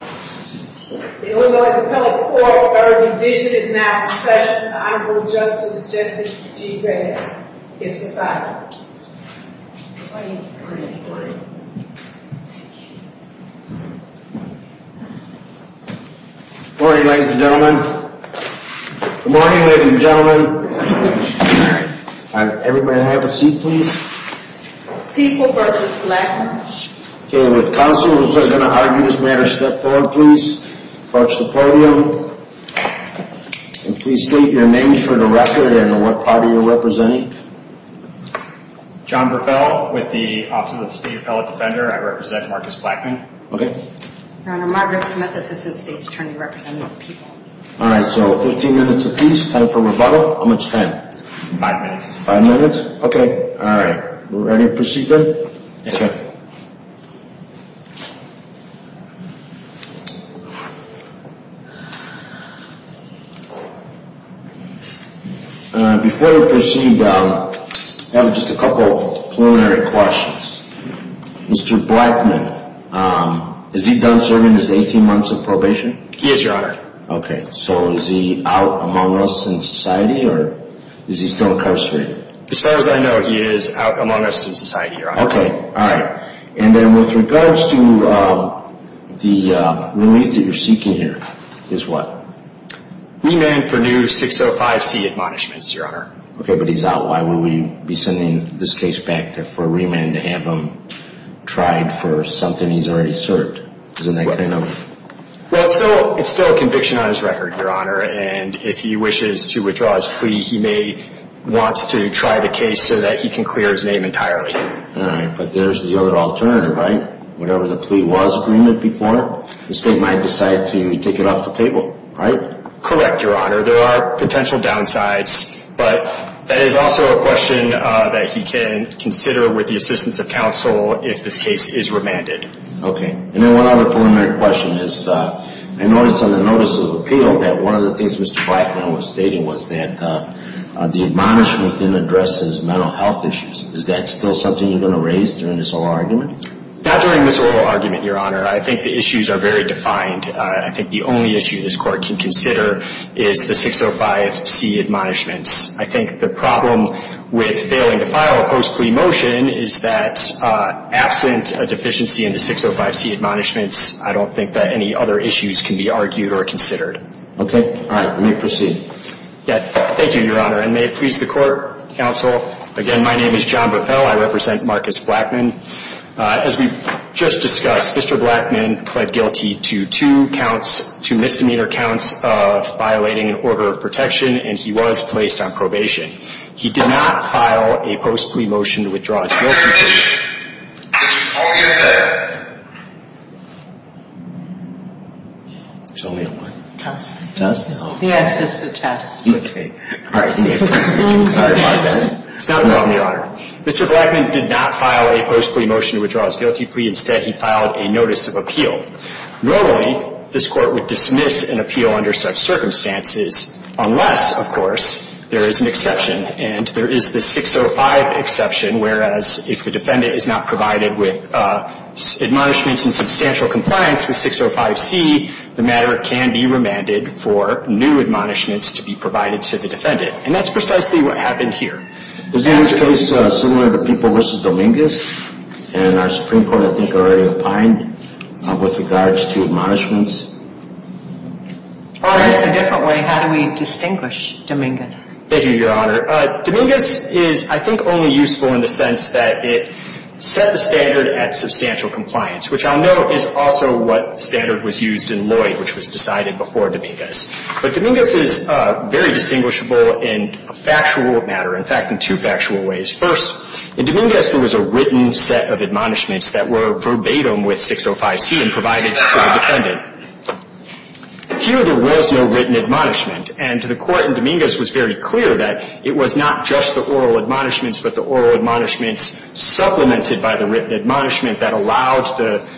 The Illinois Appellate Court, third division, is now in session with the Honorable Justice Jesse G. Graves. His recital. Good morning ladies and gentlemen. Good morning ladies and gentlemen. Everybody have a seat please. People v. Blackmon. Counselors are going to argue this matter. Step forward please. Approach the podium. Please state your names for the record and what party you are representing. John Burfell with the Office of the State Appellate Defender. I represent Marcus Blackmon. Okay. My name is Margaret Smith, Assistant State Attorney representing the people. Alright, so 15 minutes apiece. Time for rebuttal. How much time? Five minutes. Five minutes? Okay. Alright. We're ready to proceed then? Yes, sir. Before we proceed, I have just a couple preliminary questions. Mr. Blackmon, is he done serving his 18 months of probation? He is, Your Honor. Okay, so is he out among us in society or is he still incarcerated? As far as I know he is out among us in society, Your Honor. Okay. Alright. And then with regards to the relief that you're seeking here, is what? Remand for new 605C admonishments, Your Honor. Okay, but he's out. Why would we be sending this case back for a remand to have him tried for something he's already served? Isn't that kind of... Well, it's still a conviction on his record, Your Honor. And if he wishes to withdraw his plea, he may want to try the case so that he can clear his name entirely. Alright, but there's the other alternative, right? Whatever the plea was, agreement before, the state might decide to take it off the table, right? Correct, Your Honor. There are potential downsides, but that is also a question that he can consider with the assistance of counsel if this case is remanded. Okay. And then one other preliminary question is, I noticed on the notice of appeal that one of the things Mr. Blackmon was stating was that the admonishments didn't address his mental health issues. Is that still something you're going to raise during this oral argument? Not during this oral argument, Your Honor. I think the issues are very defined. I think the only issue this Court can consider is the 605C admonishments. I think the problem with failing to file a post-plea motion is that absent a deficiency in the 605C admonishments, I don't think that any other issues can be argued or considered. Okay, alright. Let me proceed. Thank you, Your Honor, and may it please the Court, counsel. Again, my name is John Buffel. I represent Marcus Blackmon. As we just discussed, Mr. Blackmon pled guilty to two misdemeanor counts of violating an order of protection, and he was placed on probation. He did not file a post-plea motion to withdraw his guilty plea. I'll get it. There's only one. Tess. Tess, no. He asked us to test. Okay. Alright. Sorry about that. It's not a problem, Your Honor. Mr. Blackmon did not file a post-plea motion to withdraw his guilty plea. Instead, he filed a notice of appeal. Normally, this Court would dismiss an appeal under such circumstances unless, of course, there is an exception, and there is the 605 exception, whereas if the defendant is not provided with admonishments in substantial compliance with 605C, the matter can be remanded for new admonishments to be provided to the defendant, and that's precisely what happened here. Is this case similar to People v. Dominguez? And our Supreme Court, I think, already opined with regards to admonishments. Alright. It's a different way. How do we distinguish Dominguez? Thank you, Your Honor. Dominguez is, I think, only useful in the sense that it set the standard at substantial compliance, which I'll note is also what standard was used in Lloyd, which was decided before Dominguez. But Dominguez is very distinguishable in a factual matter, in fact, in two factual ways. First, in Dominguez, there was a written set of admonishments that were verbatim with 605C and provided to the defendant. Here, there was no written admonishment, and the Court in Dominguez was very clear that it was not just the oral admonishments, but the oral admonishments supplemented by the written admonishment that allowed the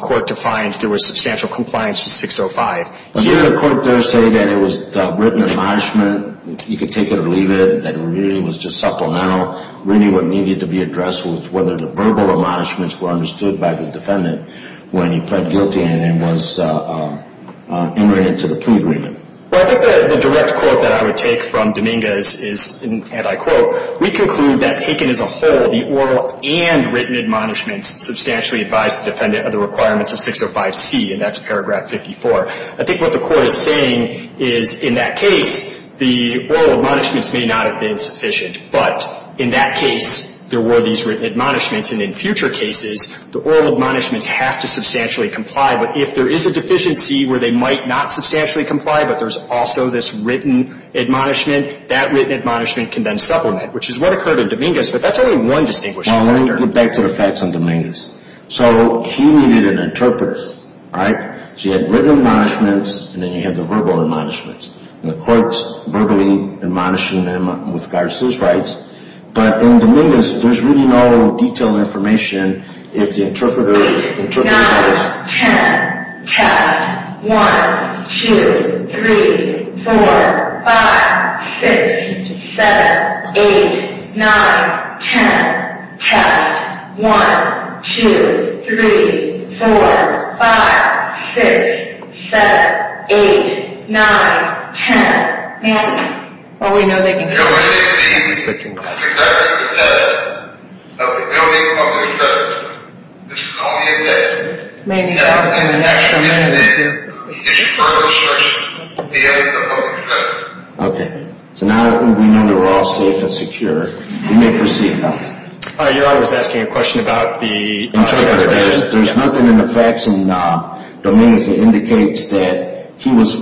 Court to find there was substantial compliance with 605. Here, the Court does say that it was written admonishment. You could take it or leave it, that it really was just supplemental, really what needed to be addressed was whether the verbal admonishments were understood by the defendant when he pled guilty and was entered into the plea agreement. Well, I think the direct quote that I would take from Dominguez is, and I quote, we conclude that, taken as a whole, the oral and written admonishments substantially advised the defendant of the requirements of 605C, and that's paragraph 54. I think what the Court is saying is, in that case, the oral admonishments may not have been sufficient, but in that case, there were these written admonishments. And in future cases, the oral admonishments have to substantially comply. But if there is a deficiency where they might not substantially comply, but there's also this written admonishment, that written admonishment can then supplement, which is what occurred in Dominguez, but that's only one distinguishing factor. Well, let me get back to the facts on Dominguez. So he needed an interpreter, right? So you had written admonishments, and then you had the verbal admonishments. And the Court's verbally admonishing them with regards to his rights. But in Dominguez, there's really no detailed information if the interpreter interprets the facts. Test. 1, 2, 3, 4, 5, 6, 7, 8, 9, 10. Test. 1, 2, 3, 4, 5, 6, 7, 8, 9, 10. Well, we know they can communicate. He's looking back. The executive said that we don't need a public justice. This is only a test. Maybe in the next amendment, too. If you further search, we have a public justice. Okay. So now that we know that we're all safe and secure, we may proceed. Your Honor is asking a question about the interpretation. There's nothing in the facts in Dominguez that indicates that he was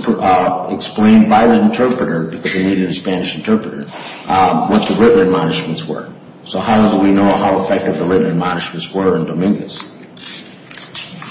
explained by the interpreter, because he needed a Spanish interpreter, what the written admonishments were. So how do we know how effective the written admonishments were in Dominguez?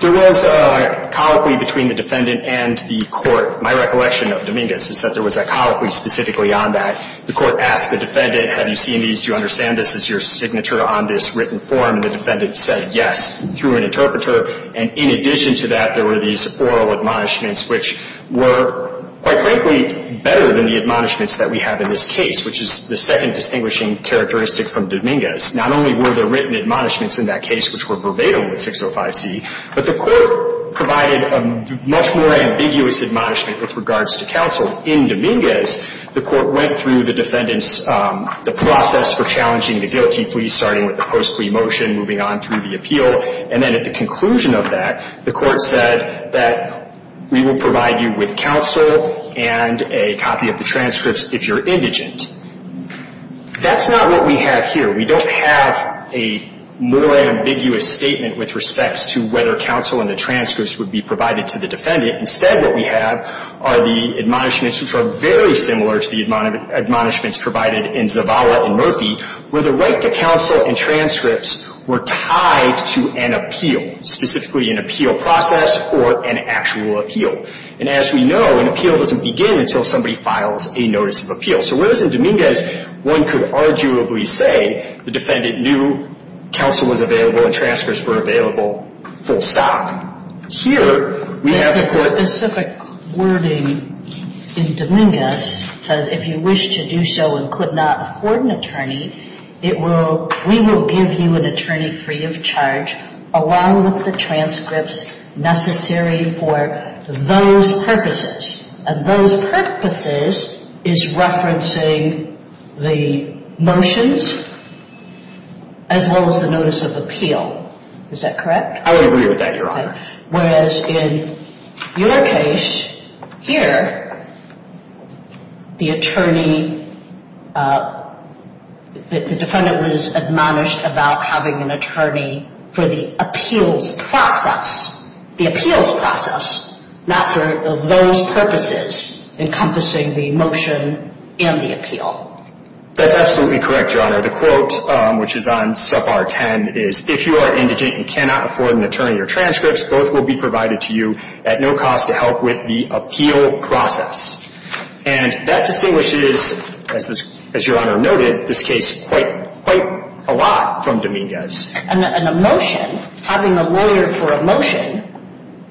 There was a colloquy between the defendant and the Court. My recollection of Dominguez is that there was a colloquy specifically on that. The Court asked the defendant, have you seen these? Do you understand this as your signature on this written form? And the defendant said yes through an interpreter. And in addition to that, there were these oral admonishments, which were, quite frankly, better than the admonishments that we have in this case, which is the second distinguishing characteristic from Dominguez. Not only were there written admonishments in that case which were verbatim with 605C, but the Court provided a much more ambiguous admonishment with regards to counsel. In Dominguez, the Court went through the defendant's process for challenging the guilty plea, starting with the post plea motion, moving on through the appeal. And then at the conclusion of that, the Court said that we will provide you with counsel and a copy of the transcripts if you're indigent. That's not what we have here. We don't have a more ambiguous statement with respects to whether counsel and the transcripts would be provided to the defendant. Instead, what we have are the admonishments which are very similar to the admonishments provided in Zavala and Murphy where the right to counsel and transcripts were tied to an appeal, specifically an appeal process or an actual appeal. And as we know, an appeal doesn't begin until somebody files a notice of appeal. So whereas in Dominguez, one could arguably say the defendant knew counsel was available and transcripts were available full stop. Here, we have the Court. Your specific wording in Dominguez says if you wish to do so and could not afford an attorney, we will give you an attorney free of charge along with the transcripts necessary for those purposes. And those purposes is referencing the motions as well as the notice of appeal. Is that correct? I would agree with that, Your Honor. Whereas in your case here, the attorney, the defendant was admonished about having an attorney for the appeals process, the appeals process, not for those purposes encompassing the motion and the appeal. That's absolutely correct, Your Honor. The quote, which is on sub R10, is if you are indigent and cannot afford an attorney or transcripts, both will be provided to you at no cost to help with the appeal process. And that distinguishes, as Your Honor noted, this case quite a lot from Dominguez. And a motion, having a lawyer for a motion,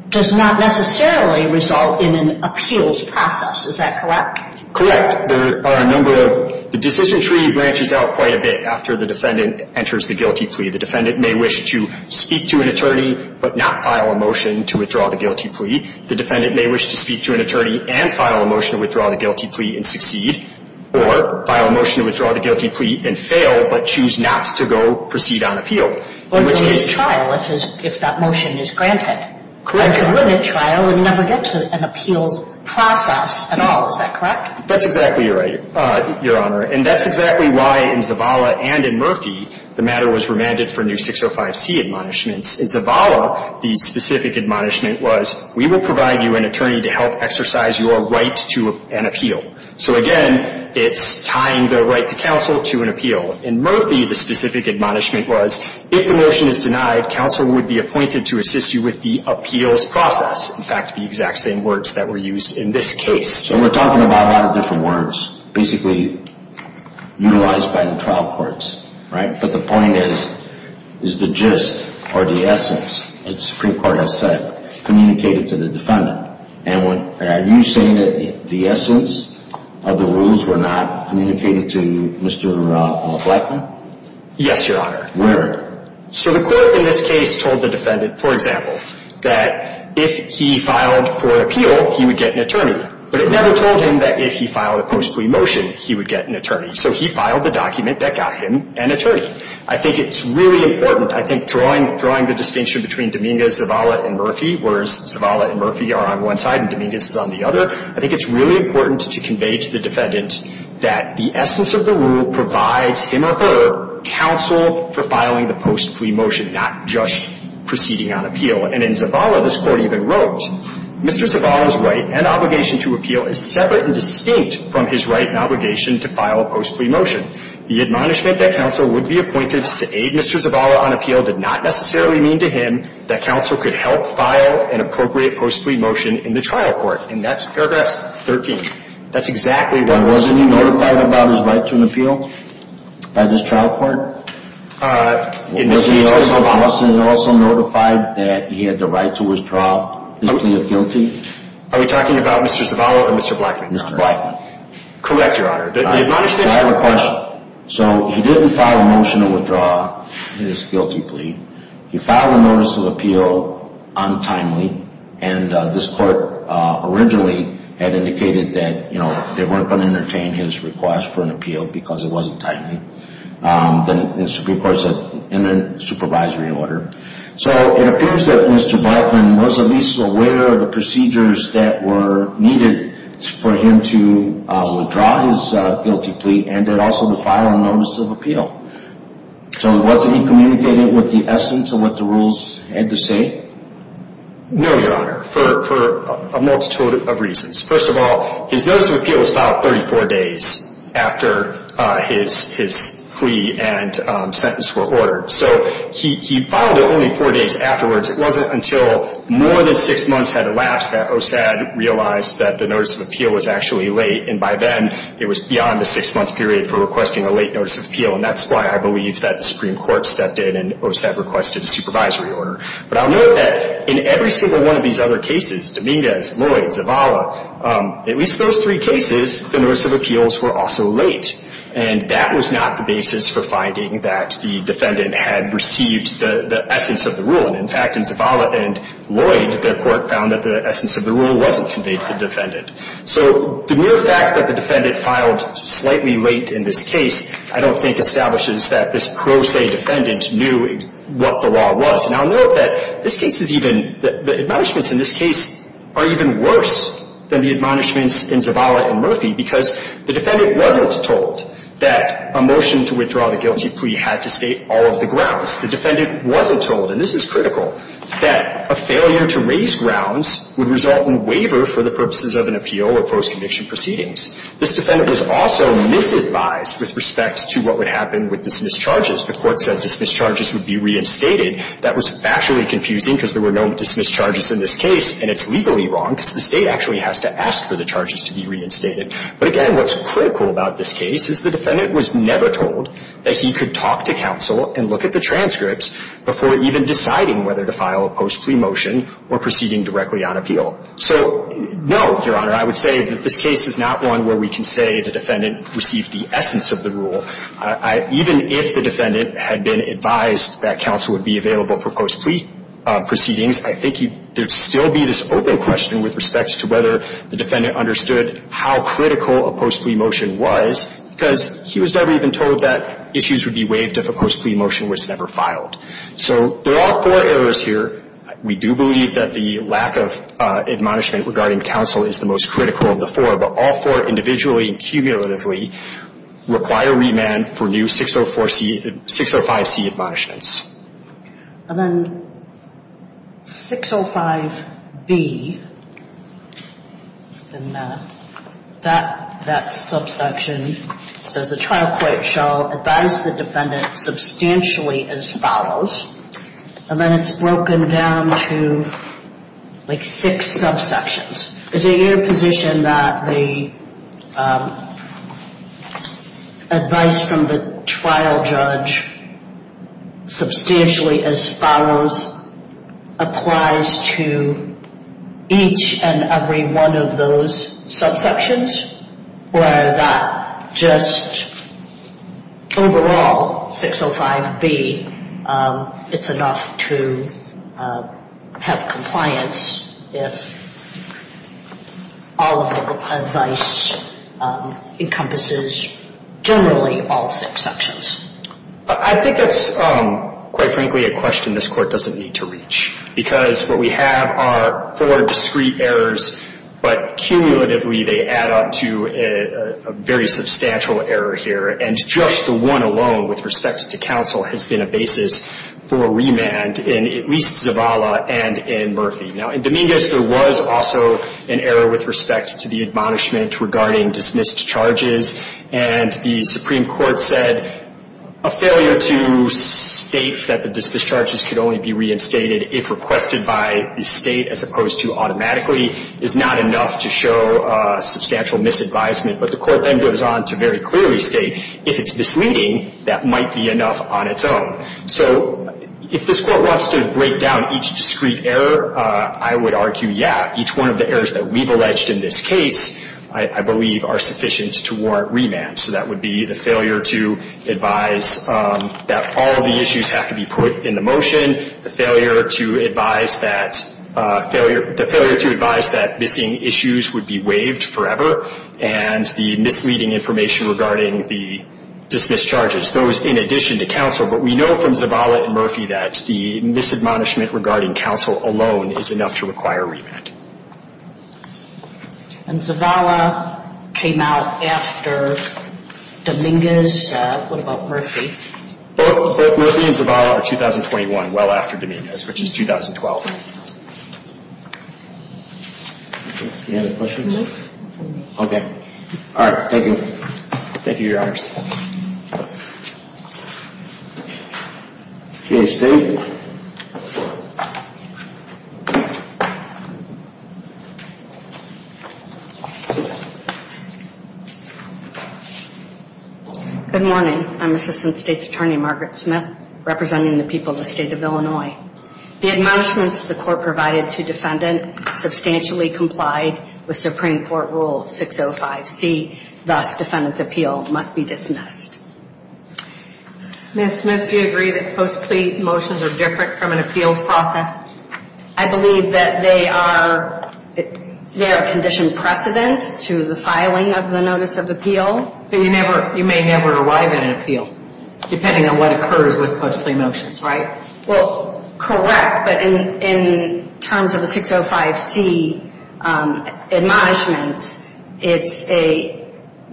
does not necessarily result in an appeals process. Is that correct? Correct. In fact, there are a number of the decision tree branches out quite a bit after the defendant enters the guilty plea. The defendant may wish to speak to an attorney, but not file a motion to withdraw the guilty plea. The defendant may wish to speak to an attorney and file a motion to withdraw the guilty plea and succeed, or file a motion to withdraw the guilty plea and fail, but choose not to go proceed on appeal. Or to limit trial if that motion is granted. Correct. Or to limit trial and never get to an appeals process at all. Is that correct? That's exactly right, Your Honor. And that's exactly why in Zavala and in Murphy, the matter was remanded for new 605C admonishments. In Zavala, the specific admonishment was, we will provide you an attorney to help exercise your right to an appeal. So again, it's tying the right to counsel to an appeal. In Murphy, the specific admonishment was, if the motion is denied, counsel would be appointed to assist you with the appeals process. In fact, the exact same words that were used in this case. So we're talking about a lot of different words, basically utilized by the trial courts, right? But the point is, is the gist or the essence, as the Supreme Court has said, communicated to the defendant. And are you saying that the essence of the rules were not communicated to Mr. McLaughlin? Yes, Your Honor. Where? So the court in this case told the defendant, for example, that if he filed for appeal, he would get an attorney. But it never told him that if he filed a post plea motion, he would get an attorney. So he filed the document that got him an attorney. I think it's really important. I think drawing the distinction between Dominguez, Zavala, and Murphy, whereas Zavala and Murphy are on one side and Dominguez is on the other, I think it's really important to convey to the defendant that the essence of the rule provides him or her counsel for filing the post plea motion, not just proceeding on appeal. And in Zavala, this Court even wrote, Mr. Zavala's right and obligation to appeal is separate and distinct from his right and obligation to file a post plea motion. The admonishment that counsel would be appointed to aid Mr. Zavala on appeal did not necessarily mean to him that counsel could help file an appropriate post plea motion in the trial court. And that's paragraphs 13. That's exactly what it was. Wasn't he notified about his right to an appeal by this trial court? Was he also notified that he had the right to withdraw his plea of guilty? Are we talking about Mr. Zavala or Mr. Blackman? Mr. Blackman. Correct, Your Honor. So he didn't file a motion to withdraw his guilty plea. He filed a notice of appeal untimely, and this Court originally had indicated that, you know, they weren't going to entertain his request for an appeal because it wasn't timely. The Supreme Court said in a supervisory order. So it appears that Mr. Blackman was at least aware of the procedures that were needed for him to withdraw his guilty plea and then also to file a notice of appeal. So wasn't he communicating with the essence of what the rules had to say? No, Your Honor, for a multitude of reasons. First of all, his notice of appeal was filed 34 days after his plea and sentence were ordered. So he filed it only four days afterwards. It wasn't until more than six months had elapsed that OSAD realized that the notice of appeal was actually late, and by then it was beyond the six-month period for requesting a late notice of appeal, and that's why I believe that the Supreme Court stepped in and OSAD requested a supervisory order. But I'll note that in every single one of these other cases, Dominguez, Lloyd, Zavala, at least those three cases, the notice of appeals were also late, and that was not the basis for finding that the defendant had received the essence of the rule. And, in fact, in Zavala and Lloyd, their court found that the essence of the rule wasn't conveyed to the defendant. So the mere fact that the defendant filed slightly late in this case, I don't think establishes that this pro se defendant knew what the law was. And I'll note that this case is even – the admonishments in this case are even worse than the admonishments in Zavala and Murphy because the defendant wasn't told that a motion to withdraw the guilty plea had to state all of the grounds. The defendant wasn't told, and this is critical, that a failure to raise grounds would result in waiver for the purposes of an appeal or post-conviction proceedings. This defendant was also misadvised with respect to what would happen with dismissed charges. The Court said dismissed charges would be reinstated. That was factually confusing because there were no dismissed charges in this case, and it's legally wrong because the State actually has to ask for the charges to be reinstated. But, again, what's critical about this case is the defendant was never told that he could talk to counsel and look at the transcripts before even deciding whether to file a post-plea motion or proceeding directly on appeal. So, no, Your Honor, I would say that this case is not one where we can say the defendant received the essence of the rule. Even if the defendant had been advised that counsel would be available for post-plea proceedings, I think there would still be this open question with respect to whether the defendant understood how critical a post-plea motion was because he was never even told that issues would be waived if a post-plea motion was never filed. So there are four errors here. We do believe that the lack of admonishment regarding counsel is the most critical of the four, but all four individually and cumulatively require remand for new 604C and 605C admonishments. And then 605B, that subsection says the trial court shall advise the defendant substantially as follows. And then it's broken down to, like, six subsections. There's an interposition that the advice from the trial judge substantially as follows. Substantially as follows applies to each and every one of those subsections, where that just overall, 605B, it's enough to have compliance if all of the advice encompasses generally all six sections. I think that's, quite frankly, a question this Court doesn't need to reach because what we have are four discrete errors, but cumulatively they add up to a very substantial error here. And just the one alone with respect to counsel has been a basis for remand in at least Zavala and in Murphy. Now, in Dominguez, there was also an error with respect to the admonishment regarding dismissed charges, and the Supreme Court said a failure to state that the dismissed charges could only be reinstated if requested by the State as opposed to automatically is not enough to show substantial misadvisement. But the Court then goes on to very clearly state if it's misleading, that might be enough on its own. So if this Court wants to break down each discrete error, I would argue, yeah, each one of the errors that we've alleged in this case, I believe, are sufficient to warrant remand. So that would be the failure to advise that all of the issues have to be put in the motion, the failure to advise that missing issues would be waived forever, and the misleading information regarding the dismissed charges, those in addition to counsel. But we know from Zavala and Murphy that the misadmonishment regarding counsel alone is enough to require remand. And Zavala came out after Dominguez. What about Murphy? Both Murphy and Zavala are 2021, well after Dominguez, which is 2012. Any other questions? No. Okay. All right, thank you. Thank you, Your Honors. Please stand. Good morning. I'm Assistant State's Attorney Margaret Smith, representing the people of the State of Illinois. The admonishments the Court provided to defendant substantially complied with Supreme Court Rule 605C, thus defendant's appeal must be dismissed. Ms. Smith, do you agree that post-plea motions are different from an appeals process? I believe that they are a condition precedent to the filing of the notice of appeal. But you may never arrive at an appeal, depending on what occurs with post-plea motions, right? Well, correct, but in terms of the 605C admonishments, it's a,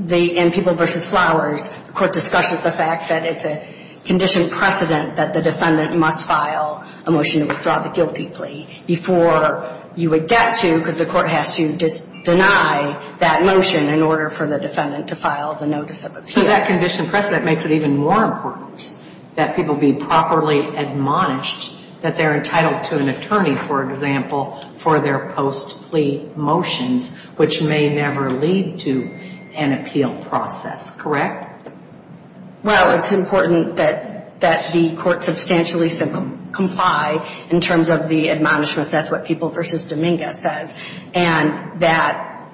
in people versus flowers, the Court discusses the fact that it's a condition precedent that the defendant must file a motion to withdraw the guilty plea before you would get to, because the Court has to deny that motion in order for the defendant to file the notice of appeal. So that condition precedent makes it even more important that people be properly admonished that they're entitled to an attorney, for example, for their post-plea motions, which may never lead to an appeal process, correct? Well, it's important that the Court substantially comply in terms of the admonishment. That's what people versus Dominguez says. And that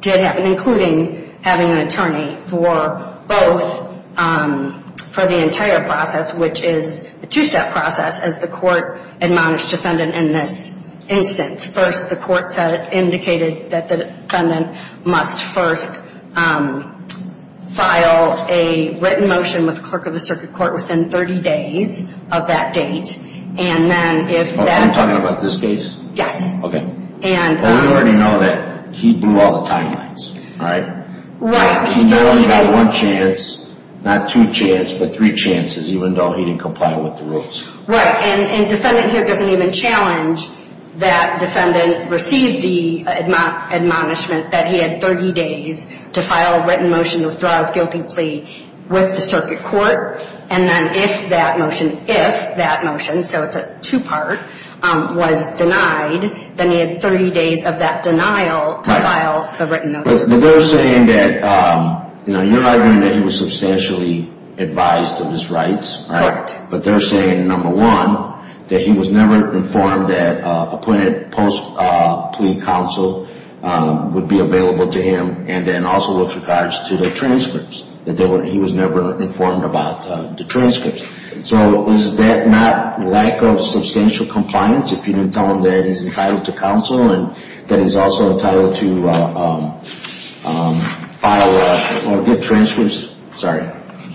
did happen, including having an attorney for both, for the entire process, which is a two-step process as the Court admonished defendant in this instance. First, the Court said it indicated that the defendant must first file a written motion with the clerk of the circuit court within 30 days of that date, and then if that... I'm talking about this case? Yes. Okay. And... Well, we already know that he blew all the timelines, right? Right. He blew, he got one chance, not two chance, but three chances, even though he didn't comply with the rules. Right, and defendant here doesn't even challenge that defendant received the admonishment that he had 30 days to file a written motion to withdraw his guilty plea with the circuit court, and then if that motion, if that motion, so it's a two-part, was denied, then he had 30 days of that denial to file the written motion. But they're saying that, you know, you're arguing that he was substantially advised of his rights, right? Correct. But they're saying, number one, that he was never informed that appointed post-plea counsel would be available to him, and then also with regards to the transcripts, that he was never informed about the transcripts. So is that not lack of substantial compliance if you tell him that he's entitled to counsel and that he's also entitled to file or get transcripts? Sorry.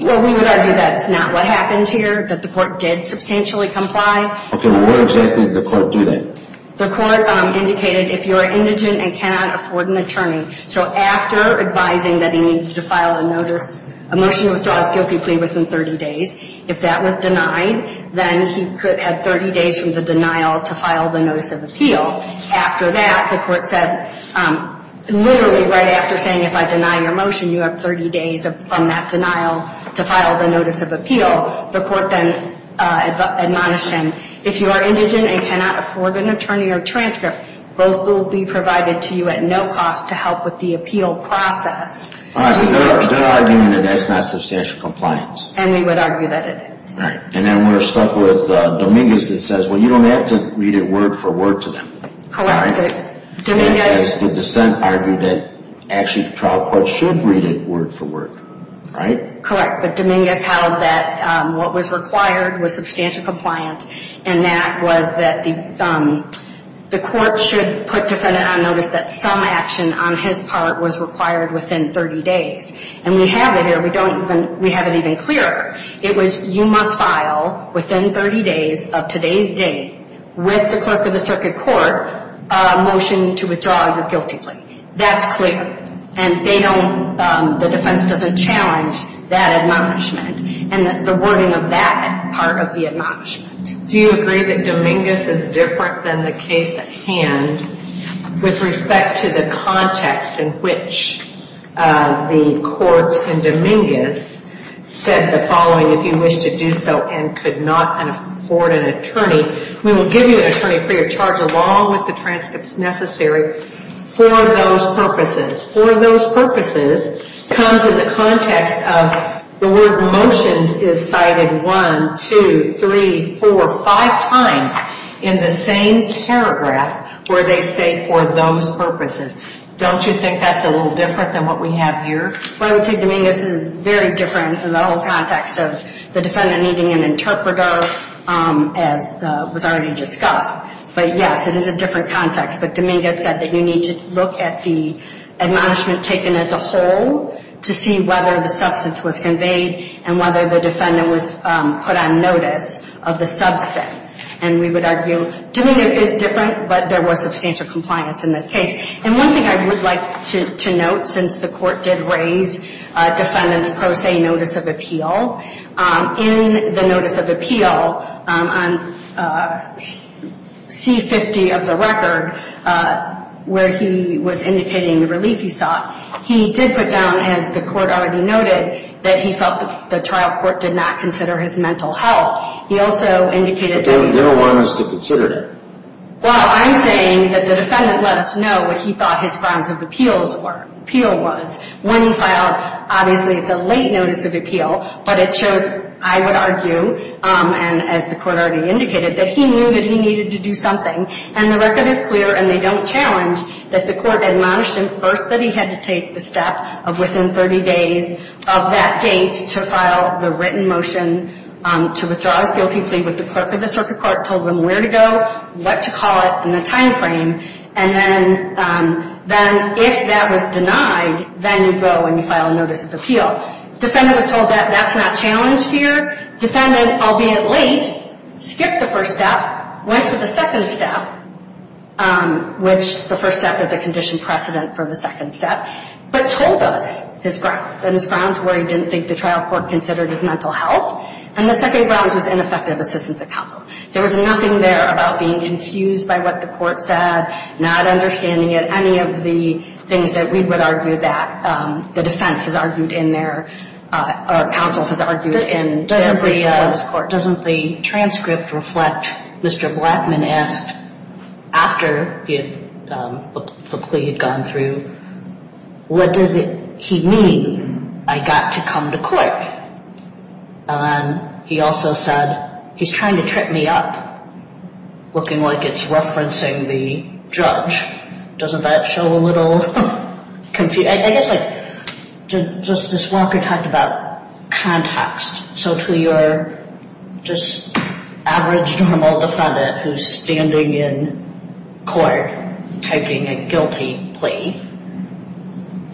Well, we would argue that's not what happened here, that the court did substantially comply. Okay, well, where exactly did the court do that? The court indicated if you're indigent and cannot afford an attorney. So after advising that he needed to file a notice, a motion to withdraw his guilty plea within 30 days, if that was denied, then he could add 30 days from the denial to file the notice of appeal. After that, the court said literally right after saying, if I deny your motion, you have 30 days from that denial to file the notice of appeal, the court then admonished him, if you are indigent and cannot afford an attorney or transcript, both will be provided to you at no cost to help with the appeal process. All right, but they're arguing that that's not substantial compliance. And we would argue that it is. Right. And then we're stuck with Dominguez that says, well, you don't have to read it word for word to them. Correct. As the dissent argued that actually the trial court should read it word for word, right? Correct. But Dominguez held that what was required was substantial compliance, and that was that the court should put defendant on notice that some action on his part was required within 30 days. And we have it here. We have it even clearer. It was you must file within 30 days of today's date with the clerk of the circuit court a motion to withdraw your guilty plea. That's clear. And they don't, the defense doesn't challenge that admonishment and the wording of that part of the admonishment. Do you agree that Dominguez is different than the case at hand with respect to the context in which the courts in Dominguez said the following, if you wish to do so, and could not afford an attorney, we will give you an attorney for your charge along with the transcripts necessary for those purposes. For those purposes comes in the context of the word motions is cited one, two, three, four, five times in the same paragraph where they say for those purposes. Don't you think that's a little different than what we have here? Well, I would say Dominguez is very different in the whole context of the defendant needing an interpreter as was already discussed. But, yes, it is a different context. But Dominguez said that you need to look at the admonishment taken as a whole to see whether the substance was conveyed and whether the defendant was put on notice of the substance. And we would argue Dominguez is different, but there was substantial compliance in this case. And one thing I would like to note, since the court did raise defendant's pro se notice of appeal, in the notice of appeal on C-50 of the record, where he was indicating the relief he sought, he did put down, as the court already noted, that he felt the trial court did not consider his mental health. He also indicated that he... They don't want us to consider that. Well, I'm saying that the defendant let us know what he thought his grounds of appeal was. When he filed, obviously, it's a late notice of appeal, but it shows, I would argue, and as the court already indicated, that he knew that he needed to do something. And the record is clear and they don't challenge that the court admonished him first that he had to take the step of within 30 days of that date to file the written motion to withdraw his guilty plea with the clerk of the circuit court, told them where to go, what to call it in the time frame, and then if that was denied, then you go and you file a notice of appeal. Defendant was told that that's not challenged here. Defendant, albeit late, skipped the first step, went to the second step, which the first step is a condition precedent for the second step, but told us his grounds, and his grounds where he didn't think the trial court considered his mental health. And the second grounds was ineffective assistance at counsel. There was nothing there about being confused by what the court said, not understanding it, any of the things that we would argue that the defense has argued in their or counsel has argued in their brief on this court. Doesn't the transcript reflect Mr. Blackman asked after the plea had gone through, what does he mean, I got to come to court? And then he also said, he's trying to trip me up, looking like it's referencing the judge. Doesn't that show a little confusion? I guess like just this walker talked about context. So to your just average normal defendant who's standing in court taking a guilty plea,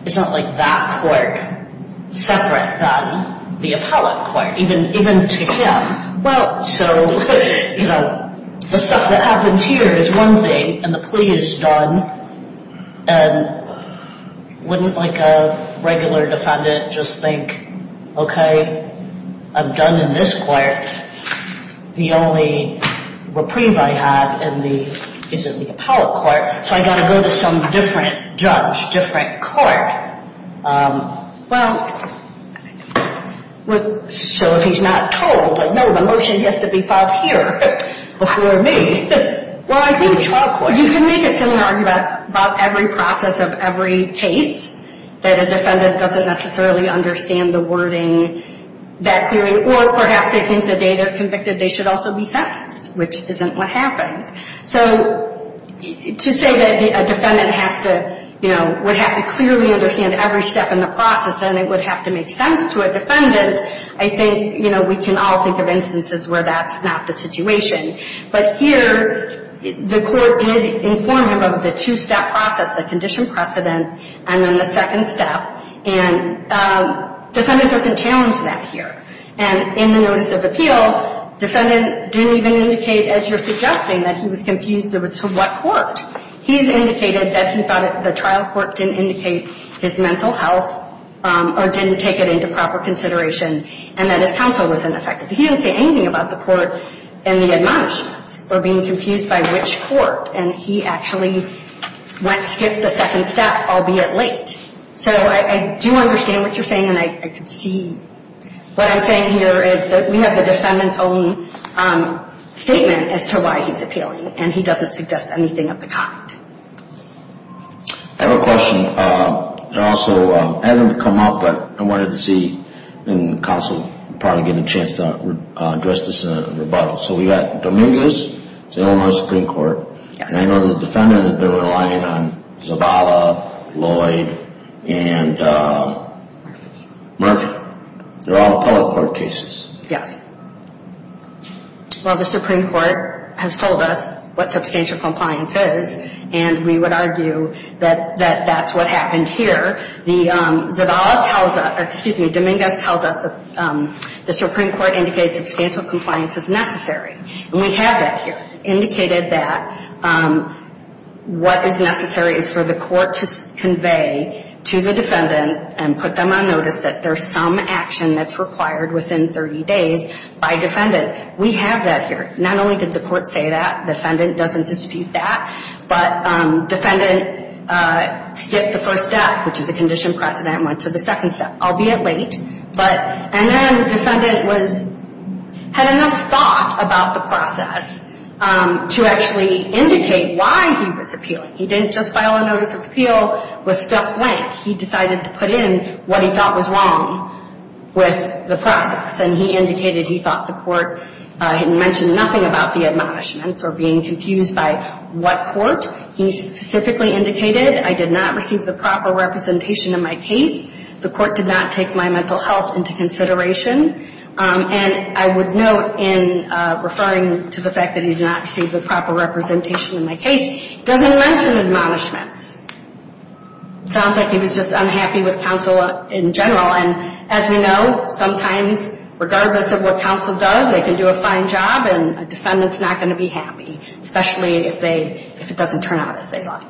it's not like that court separate than the appellate court, even to him. Well, so the stuff that happens here is one thing, and the plea is done, and wouldn't like a regular defendant just think, okay, I'm done in this court, the only reprieve I have is in the appellate court, so I got to go to some different judge, different court. Well, so if he's not told, no, the motion has to be filed here before me. Well, I think trial court, you can make a similar argument about every process of every case that a defendant doesn't necessarily understand the wording, that theory, or perhaps they think the day they're convicted they should also be sentenced, which isn't what happens. So to say that a defendant has to, you know, would have to clearly understand every step in the process and it would have to make sense to a defendant, I think, you know, we can all think of instances where that's not the situation. But here the court did inform him of the two-step process, the condition precedent, and then the second step, and defendant doesn't challenge that here. And in the notice of appeal, defendant didn't even indicate, as you're suggesting, that he was confused as to what court. He's indicated that he thought the trial court didn't indicate his mental health or didn't take it into proper consideration and that his counsel was ineffective. He didn't say anything about the court and the admonishments or being confused by which court, and he actually went, skipped the second step, albeit late. So I do understand what you're saying, and I could see what I'm saying here is that we have the defendant's own statement as to why he's appealing, and he doesn't suggest anything of the kind. I have a question that also hasn't come up, but I wanted to see, and counsel would probably get a chance to address this in a rebuttal. So we've got Dominguez, Illinois Supreme Court, and I know the defendants have been relying on Zavala, Lloyd, and Murphy. They're all appellate court cases. Yes. Well, the Supreme Court has told us what substantial compliance is, and we would argue that that's what happened here. The Zavala tells us, excuse me, Dominguez tells us the Supreme Court indicates substantial compliance is necessary, and we have that here, indicated that what is necessary is for the court to convey to the defendant and put them on notice that there's some action that's required within 30 days by a defendant. We have that here. Not only did the court say that, the defendant doesn't dispute that, but defendant skipped the first step, which is a condition precedent, and went to the second step, albeit late. And then the defendant had enough thought about the process to actually indicate why he was appealing. He didn't just file a notice of appeal with stuff blank. He decided to put in what he thought was wrong with the process, and he indicated he thought the court had mentioned nothing about the admonishments or being confused by what court. He specifically indicated, I did not receive the proper representation in my case. The court did not take my mental health into consideration. And I would note in referring to the fact that he did not receive the proper representation in my case, he doesn't mention admonishments. It sounds like he was just unhappy with counsel in general. And as we know, sometimes, regardless of what counsel does, they can do a fine job, and a defendant's not going to be happy, especially if it doesn't turn out as they'd like.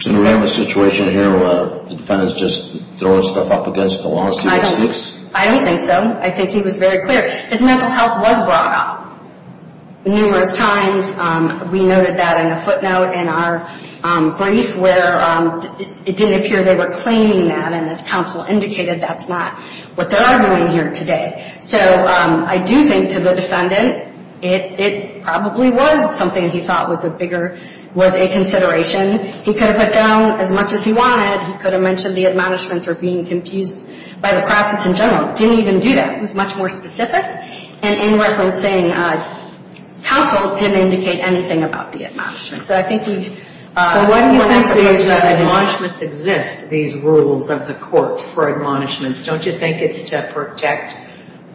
So do we have a situation here where the defendant's just throwing stuff up against the wall and seeing what sticks? I don't think so. I think he was very clear. His mental health was brought up numerous times. We noted that in a footnote in our brief, where it didn't appear they were claiming that, and as counsel indicated, that's not what they're arguing here today. So I do think to the defendant, it probably was something he thought was a bigger, was a consideration. He could have put down as much as he wanted. He could have mentioned the admonishments or being confused by the process in general. He didn't even do that. He was much more specific. And in reference, saying counsel didn't indicate anything about the admonishments. So I think he – So why do you think admonishments exist, these rules of the court for admonishments? Don't you think it's to protect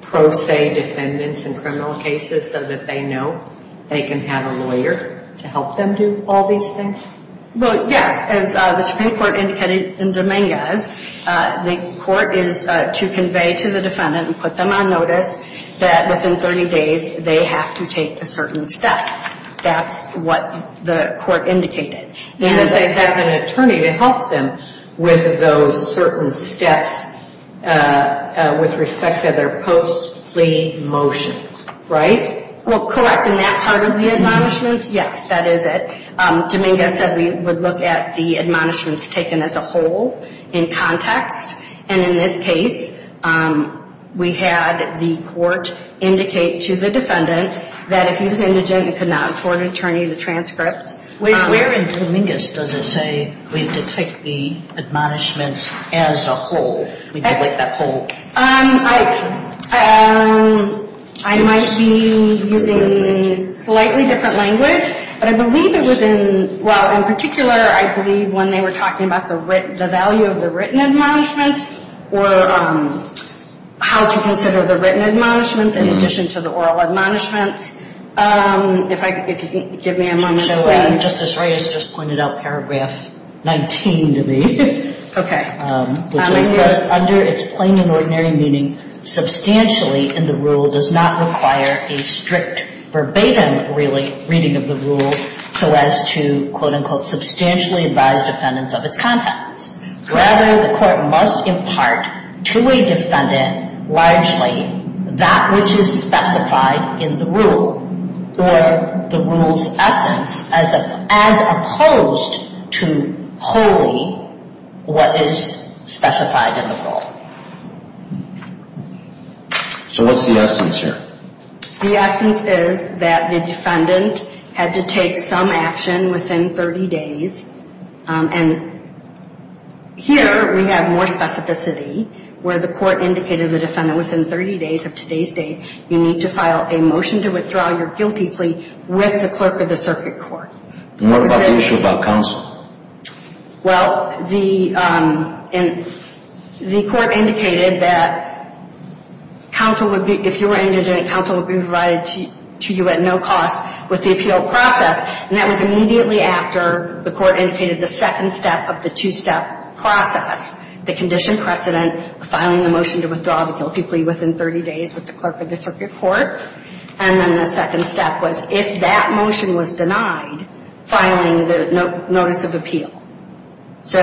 pro se defendants in criminal cases so that they know they can have a lawyer to help them do all these things? Well, yes. As the Supreme Court indicated in Dominguez, the court is to convey to the defendant and put them on notice that within 30 days they have to take a certain step. That's what the court indicated. That's an attorney to help them with those certain steps with respect to their post plea motions, right? Well, correct. In that part of the admonishments, yes, that is it. Dominguez said we would look at the admonishments taken as a whole in context. And in this case, we had the court indicate to the defendant that if he was indigent and could not afford an attorney, the transcripts. Where in Dominguez does it say we detect the admonishments as a whole? We delete that whole? I might be using a slightly different language, but I believe it was in – well, in particular, I believe when they were talking about the value of the written admonishments or how to consider the written admonishments in addition to the oral admonishments. If you could give me a moment, please. Justice Reyes just pointed out paragraph 19 to me. Okay. Dominguez. Under its plain and ordinary meaning, substantially in the rule does not require a strict verbatim reading of the rule so as to, quote, unquote, substantially advise defendants of its contents. Rather, the court must impart to a defendant largely that which is specified in the rule or the rule's essence as opposed to wholly what is specified in the rule. So what's the essence here? The essence is that the defendant had to take some action within 30 days and here we have more specificity where the court indicated the defendant within 30 days of today's date, you need to file a motion to withdraw your guilty plea with the clerk of the circuit court. And what about the issue about counsel? Well, the court indicated that counsel would be – if you were indigent, counsel would be provided to you at no cost with the appeal process, and that was immediately after the court indicated the second step of the two-step process, the condition precedent of filing the motion to withdraw the guilty plea within 30 days with the clerk of the circuit court. And then the second step was if that motion was denied, filing the notice of appeal. So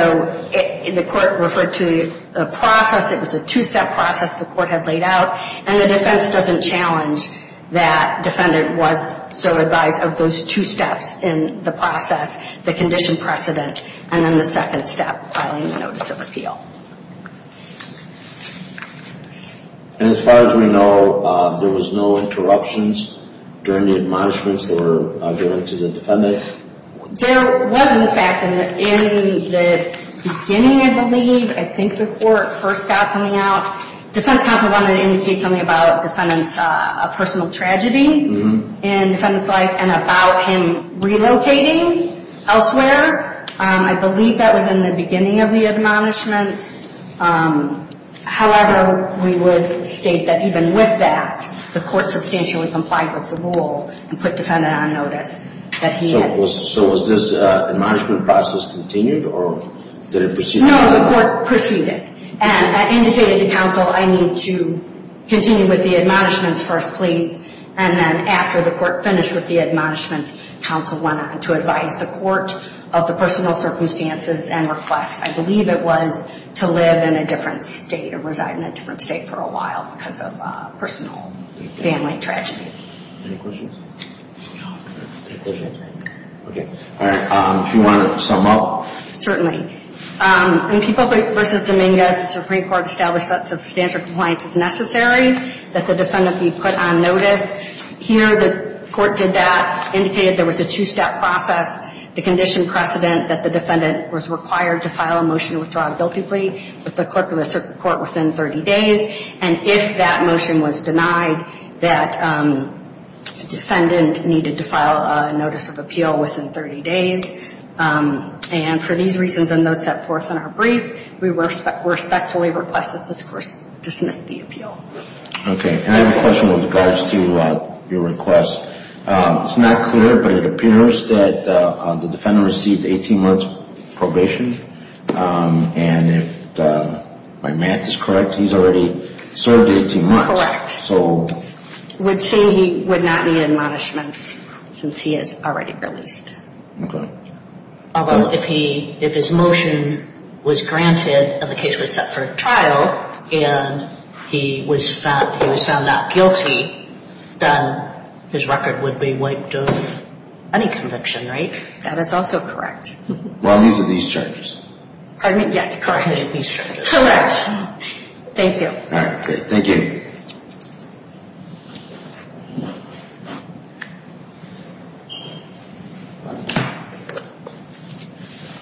the court referred to the process, it was a two-step process the court had laid out, and the defense doesn't challenge that defendant was so advised of those two steps in the process, the condition precedent, and then the second step, filing the notice of appeal. And as far as we know, there was no interruptions during the admonishments that were given to the defendant? There was, in fact, in the beginning, I believe, I think the court first got something out. Defense counsel wanted to indicate something about defendant's personal tragedy in defendant's life and about him relocating elsewhere. I believe that was in the beginning of the admonishments. However, we would state that even with that, the court substantially complied with the rule and put defendant on notice that he had. So was this admonishment process continued or did it proceed? No, the court proceeded and indicated to counsel, I need to continue with the admonishments first, please. And then after the court finished with the admonishments, counsel went on to advise the court of the personal circumstances and requests. I believe it was to live in a different state or reside in a different state for a while because of personal family tragedy. Any questions? All right, if you want to sum up? Well, certainly. In People v. Dominguez, the Supreme Court established that substantial compliance is necessary, that the defendant be put on notice. Here the court did that, indicated there was a two-step process, the condition precedent that the defendant was required to file a motion to withdraw a guilty plea with the clerk of the circuit court within 30 days. And if that motion was denied, that defendant needed to file a notice of appeal within 30 days. And for these reasons and those set forth in our brief, we respectfully request that this court dismiss the appeal. Okay. And I have a question with regards to your request. It's not clear, but it appears that the defendant received 18 months probation. And if my math is correct, he's already served 18 months. Correct. I would say he would not need admonishments since he is already released. Okay. Although if his motion was granted and the case was set for trial and he was found not guilty, then his record would be wiped of any conviction, right? That is also correct. Well, these are these charges. Pardon me? Yes, correct. These are these charges. Correct. Thank you.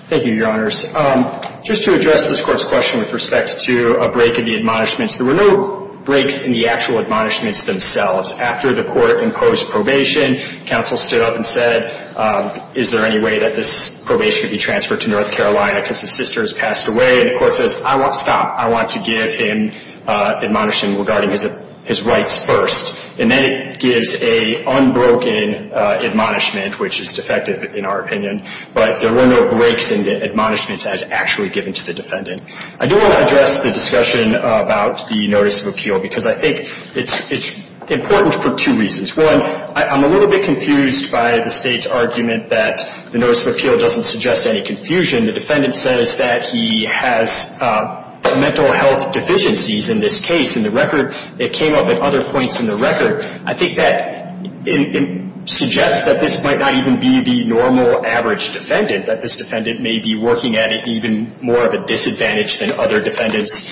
Thank you, Your Honors. Just to address this court's question with respect to a break in the admonishments, there were no breaks in the actual admonishments themselves. After the court imposed probation, counsel stood up and said, is there any way that this probation could be transferred to North Carolina because his sister has passed away? And the court says, I want to stop. I want to give him a break. I do want to address the discussion about the notice of appeal because I think it's important for two reasons. One, I'm a little bit confused by the State's argument that the notice of appeal doesn't suggest any confusion. The defendant says that he has mental health deficiencies in this case, that the notice of appeal doesn't suggest any confusion. The State's argument in this case, in the record, it came up at other points in the record, I think that it suggests that this might not even be the normal, average defendant, that this defendant may be working at it even more of a disadvantage than other defendants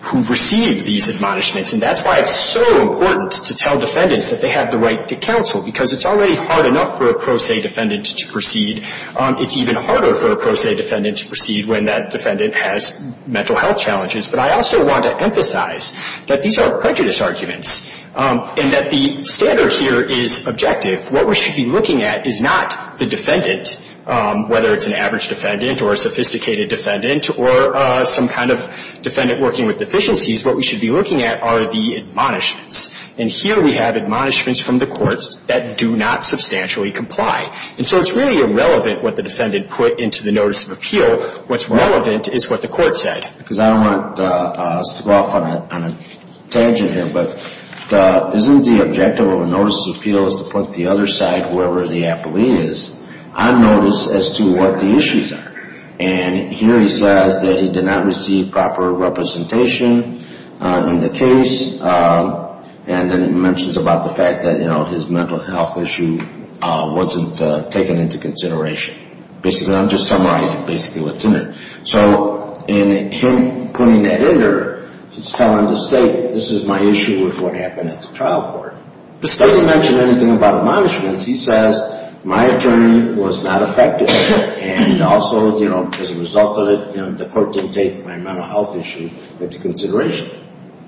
who've received these admonishments. And that's why it's so important to tell defendants that they have the right to counsel because it's already hard enough for a pro se defendant to proceed. It's even harder for a pro se defendant to proceed when that defendant has mental health challenges. But I also want to emphasize that these are prejudice arguments and that the standard here is objective. What we should be looking at is not the defendant, whether it's an average defendant or a sophisticated defendant or some kind of defendant working with deficiencies. What we should be looking at are the admonishments. And here we have admonishments from the courts that do not substantially comply. And so it's really irrelevant what the defendant put into the notice of appeal. What's relevant is what the court said. Because I don't want to go off on a tangent here, but isn't the objective of a notice of appeal is to put the other side, whoever the appellee is, on notice as to what the issues are? And here he says that he did not receive proper representation in the case. And then it mentions about the fact that, you know, his mental health issue wasn't taken into consideration. Basically, I'm just summarizing basically what's in there. So in him putting that in there, he's telling the state, this is my issue with what happened at the trial court. The state doesn't mention anything about admonishments. He says, my attorney was not effective. And also, you know, as a result of it, the court didn't take my mental health issue into consideration.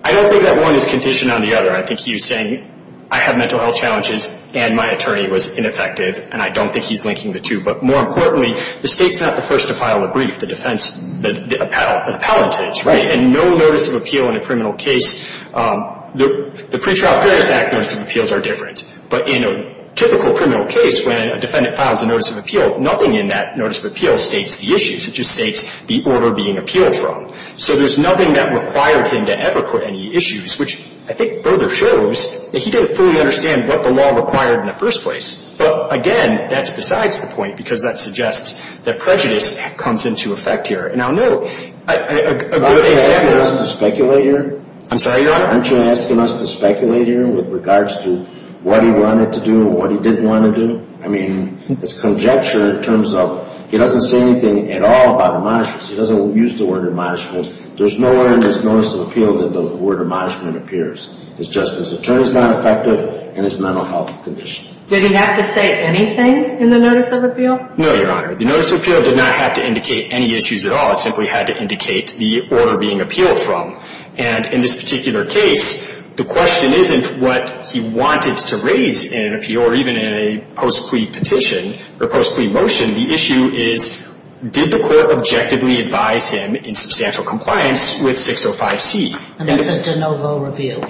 I don't think that one is conditioned on the other. I think he was saying I have mental health challenges and my attorney was ineffective, and I don't think he's linking the two. But more importantly, the state's not the first to file a brief, the defense, the appellate is, right? And no notice of appeal in a criminal case, the pretrial fairness act notice of appeals are different. But in a typical criminal case, when a defendant files a notice of appeal, nothing in that notice of appeal states the issues. It just states the order being appealed from. So there's nothing that required him to ever put any issues, which I think further shows that he didn't fully understand what the law required in the first place. But, again, that's besides the point, because that suggests that prejudice comes into effect here. Now, no, a good example of this is the fact that, you know, what he wanted to do and what he didn't want to do. I mean, it's conjecture in terms of he doesn't say anything at all about admonishments. He doesn't use the word admonishment. There's nowhere in this notice of appeal that the word admonishment appears. It's just his attorney's not effective and his mental health condition. Did he have to say anything in the notice of appeal? No, Your Honor. The notice of appeal did not have to indicate any issues at all. It simply had to indicate the order being appealed from. And in this particular case, the question isn't what he wanted to raise in an appeal or even in a post-plea petition or post-plea motion. The issue is did the court objectively advise him in substantial compliance with 605C? And that's a De Novo review.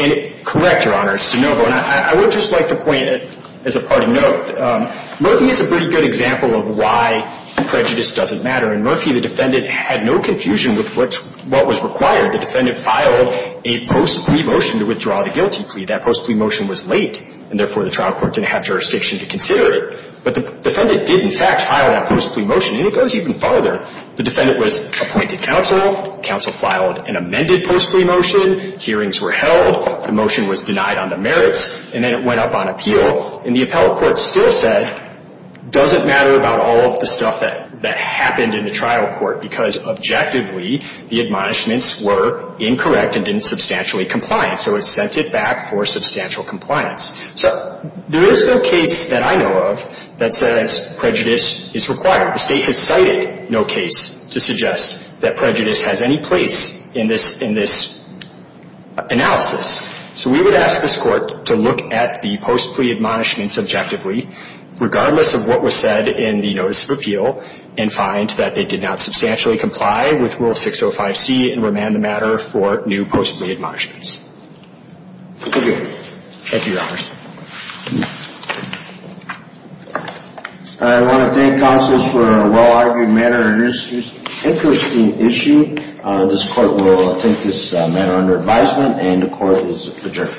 Correct, Your Honor. It's De Novo. And I would just like to point, as a parting note, Murphy is a pretty good example of why prejudice doesn't matter. And Murphy, the defendant, had no confusion with what was required. The defendant filed a post-plea motion to withdraw the guilty plea. That post-plea motion was late, and therefore the trial court didn't have jurisdiction to consider it. But the defendant did, in fact, file that post-plea motion. And it goes even farther. The defendant was appointed counsel. Counsel filed an amended post-plea motion. Hearings were held. The motion was denied on the merits. And then it went up on appeal. And the appellate court still said, doesn't matter about all of the stuff that happened in the trial court because, objectively, the admonishments were incorrect and didn't substantially comply. So it sent it back for substantial compliance. So there is no case that I know of that says prejudice is required. The State has cited no case to suggest that prejudice has any place in this analysis. So we would ask this court to look at the post-plea admonishments objectively, regardless of what was said in the notice of appeal, and find that they did not substantially comply with Rule 605C and remand the matter for new post-plea admonishments. Thank you. Thank you, Your Honors. I want to thank counsels for a well-argued matter and an interesting issue. This court will take this matter under advisement. And the court is adjourned.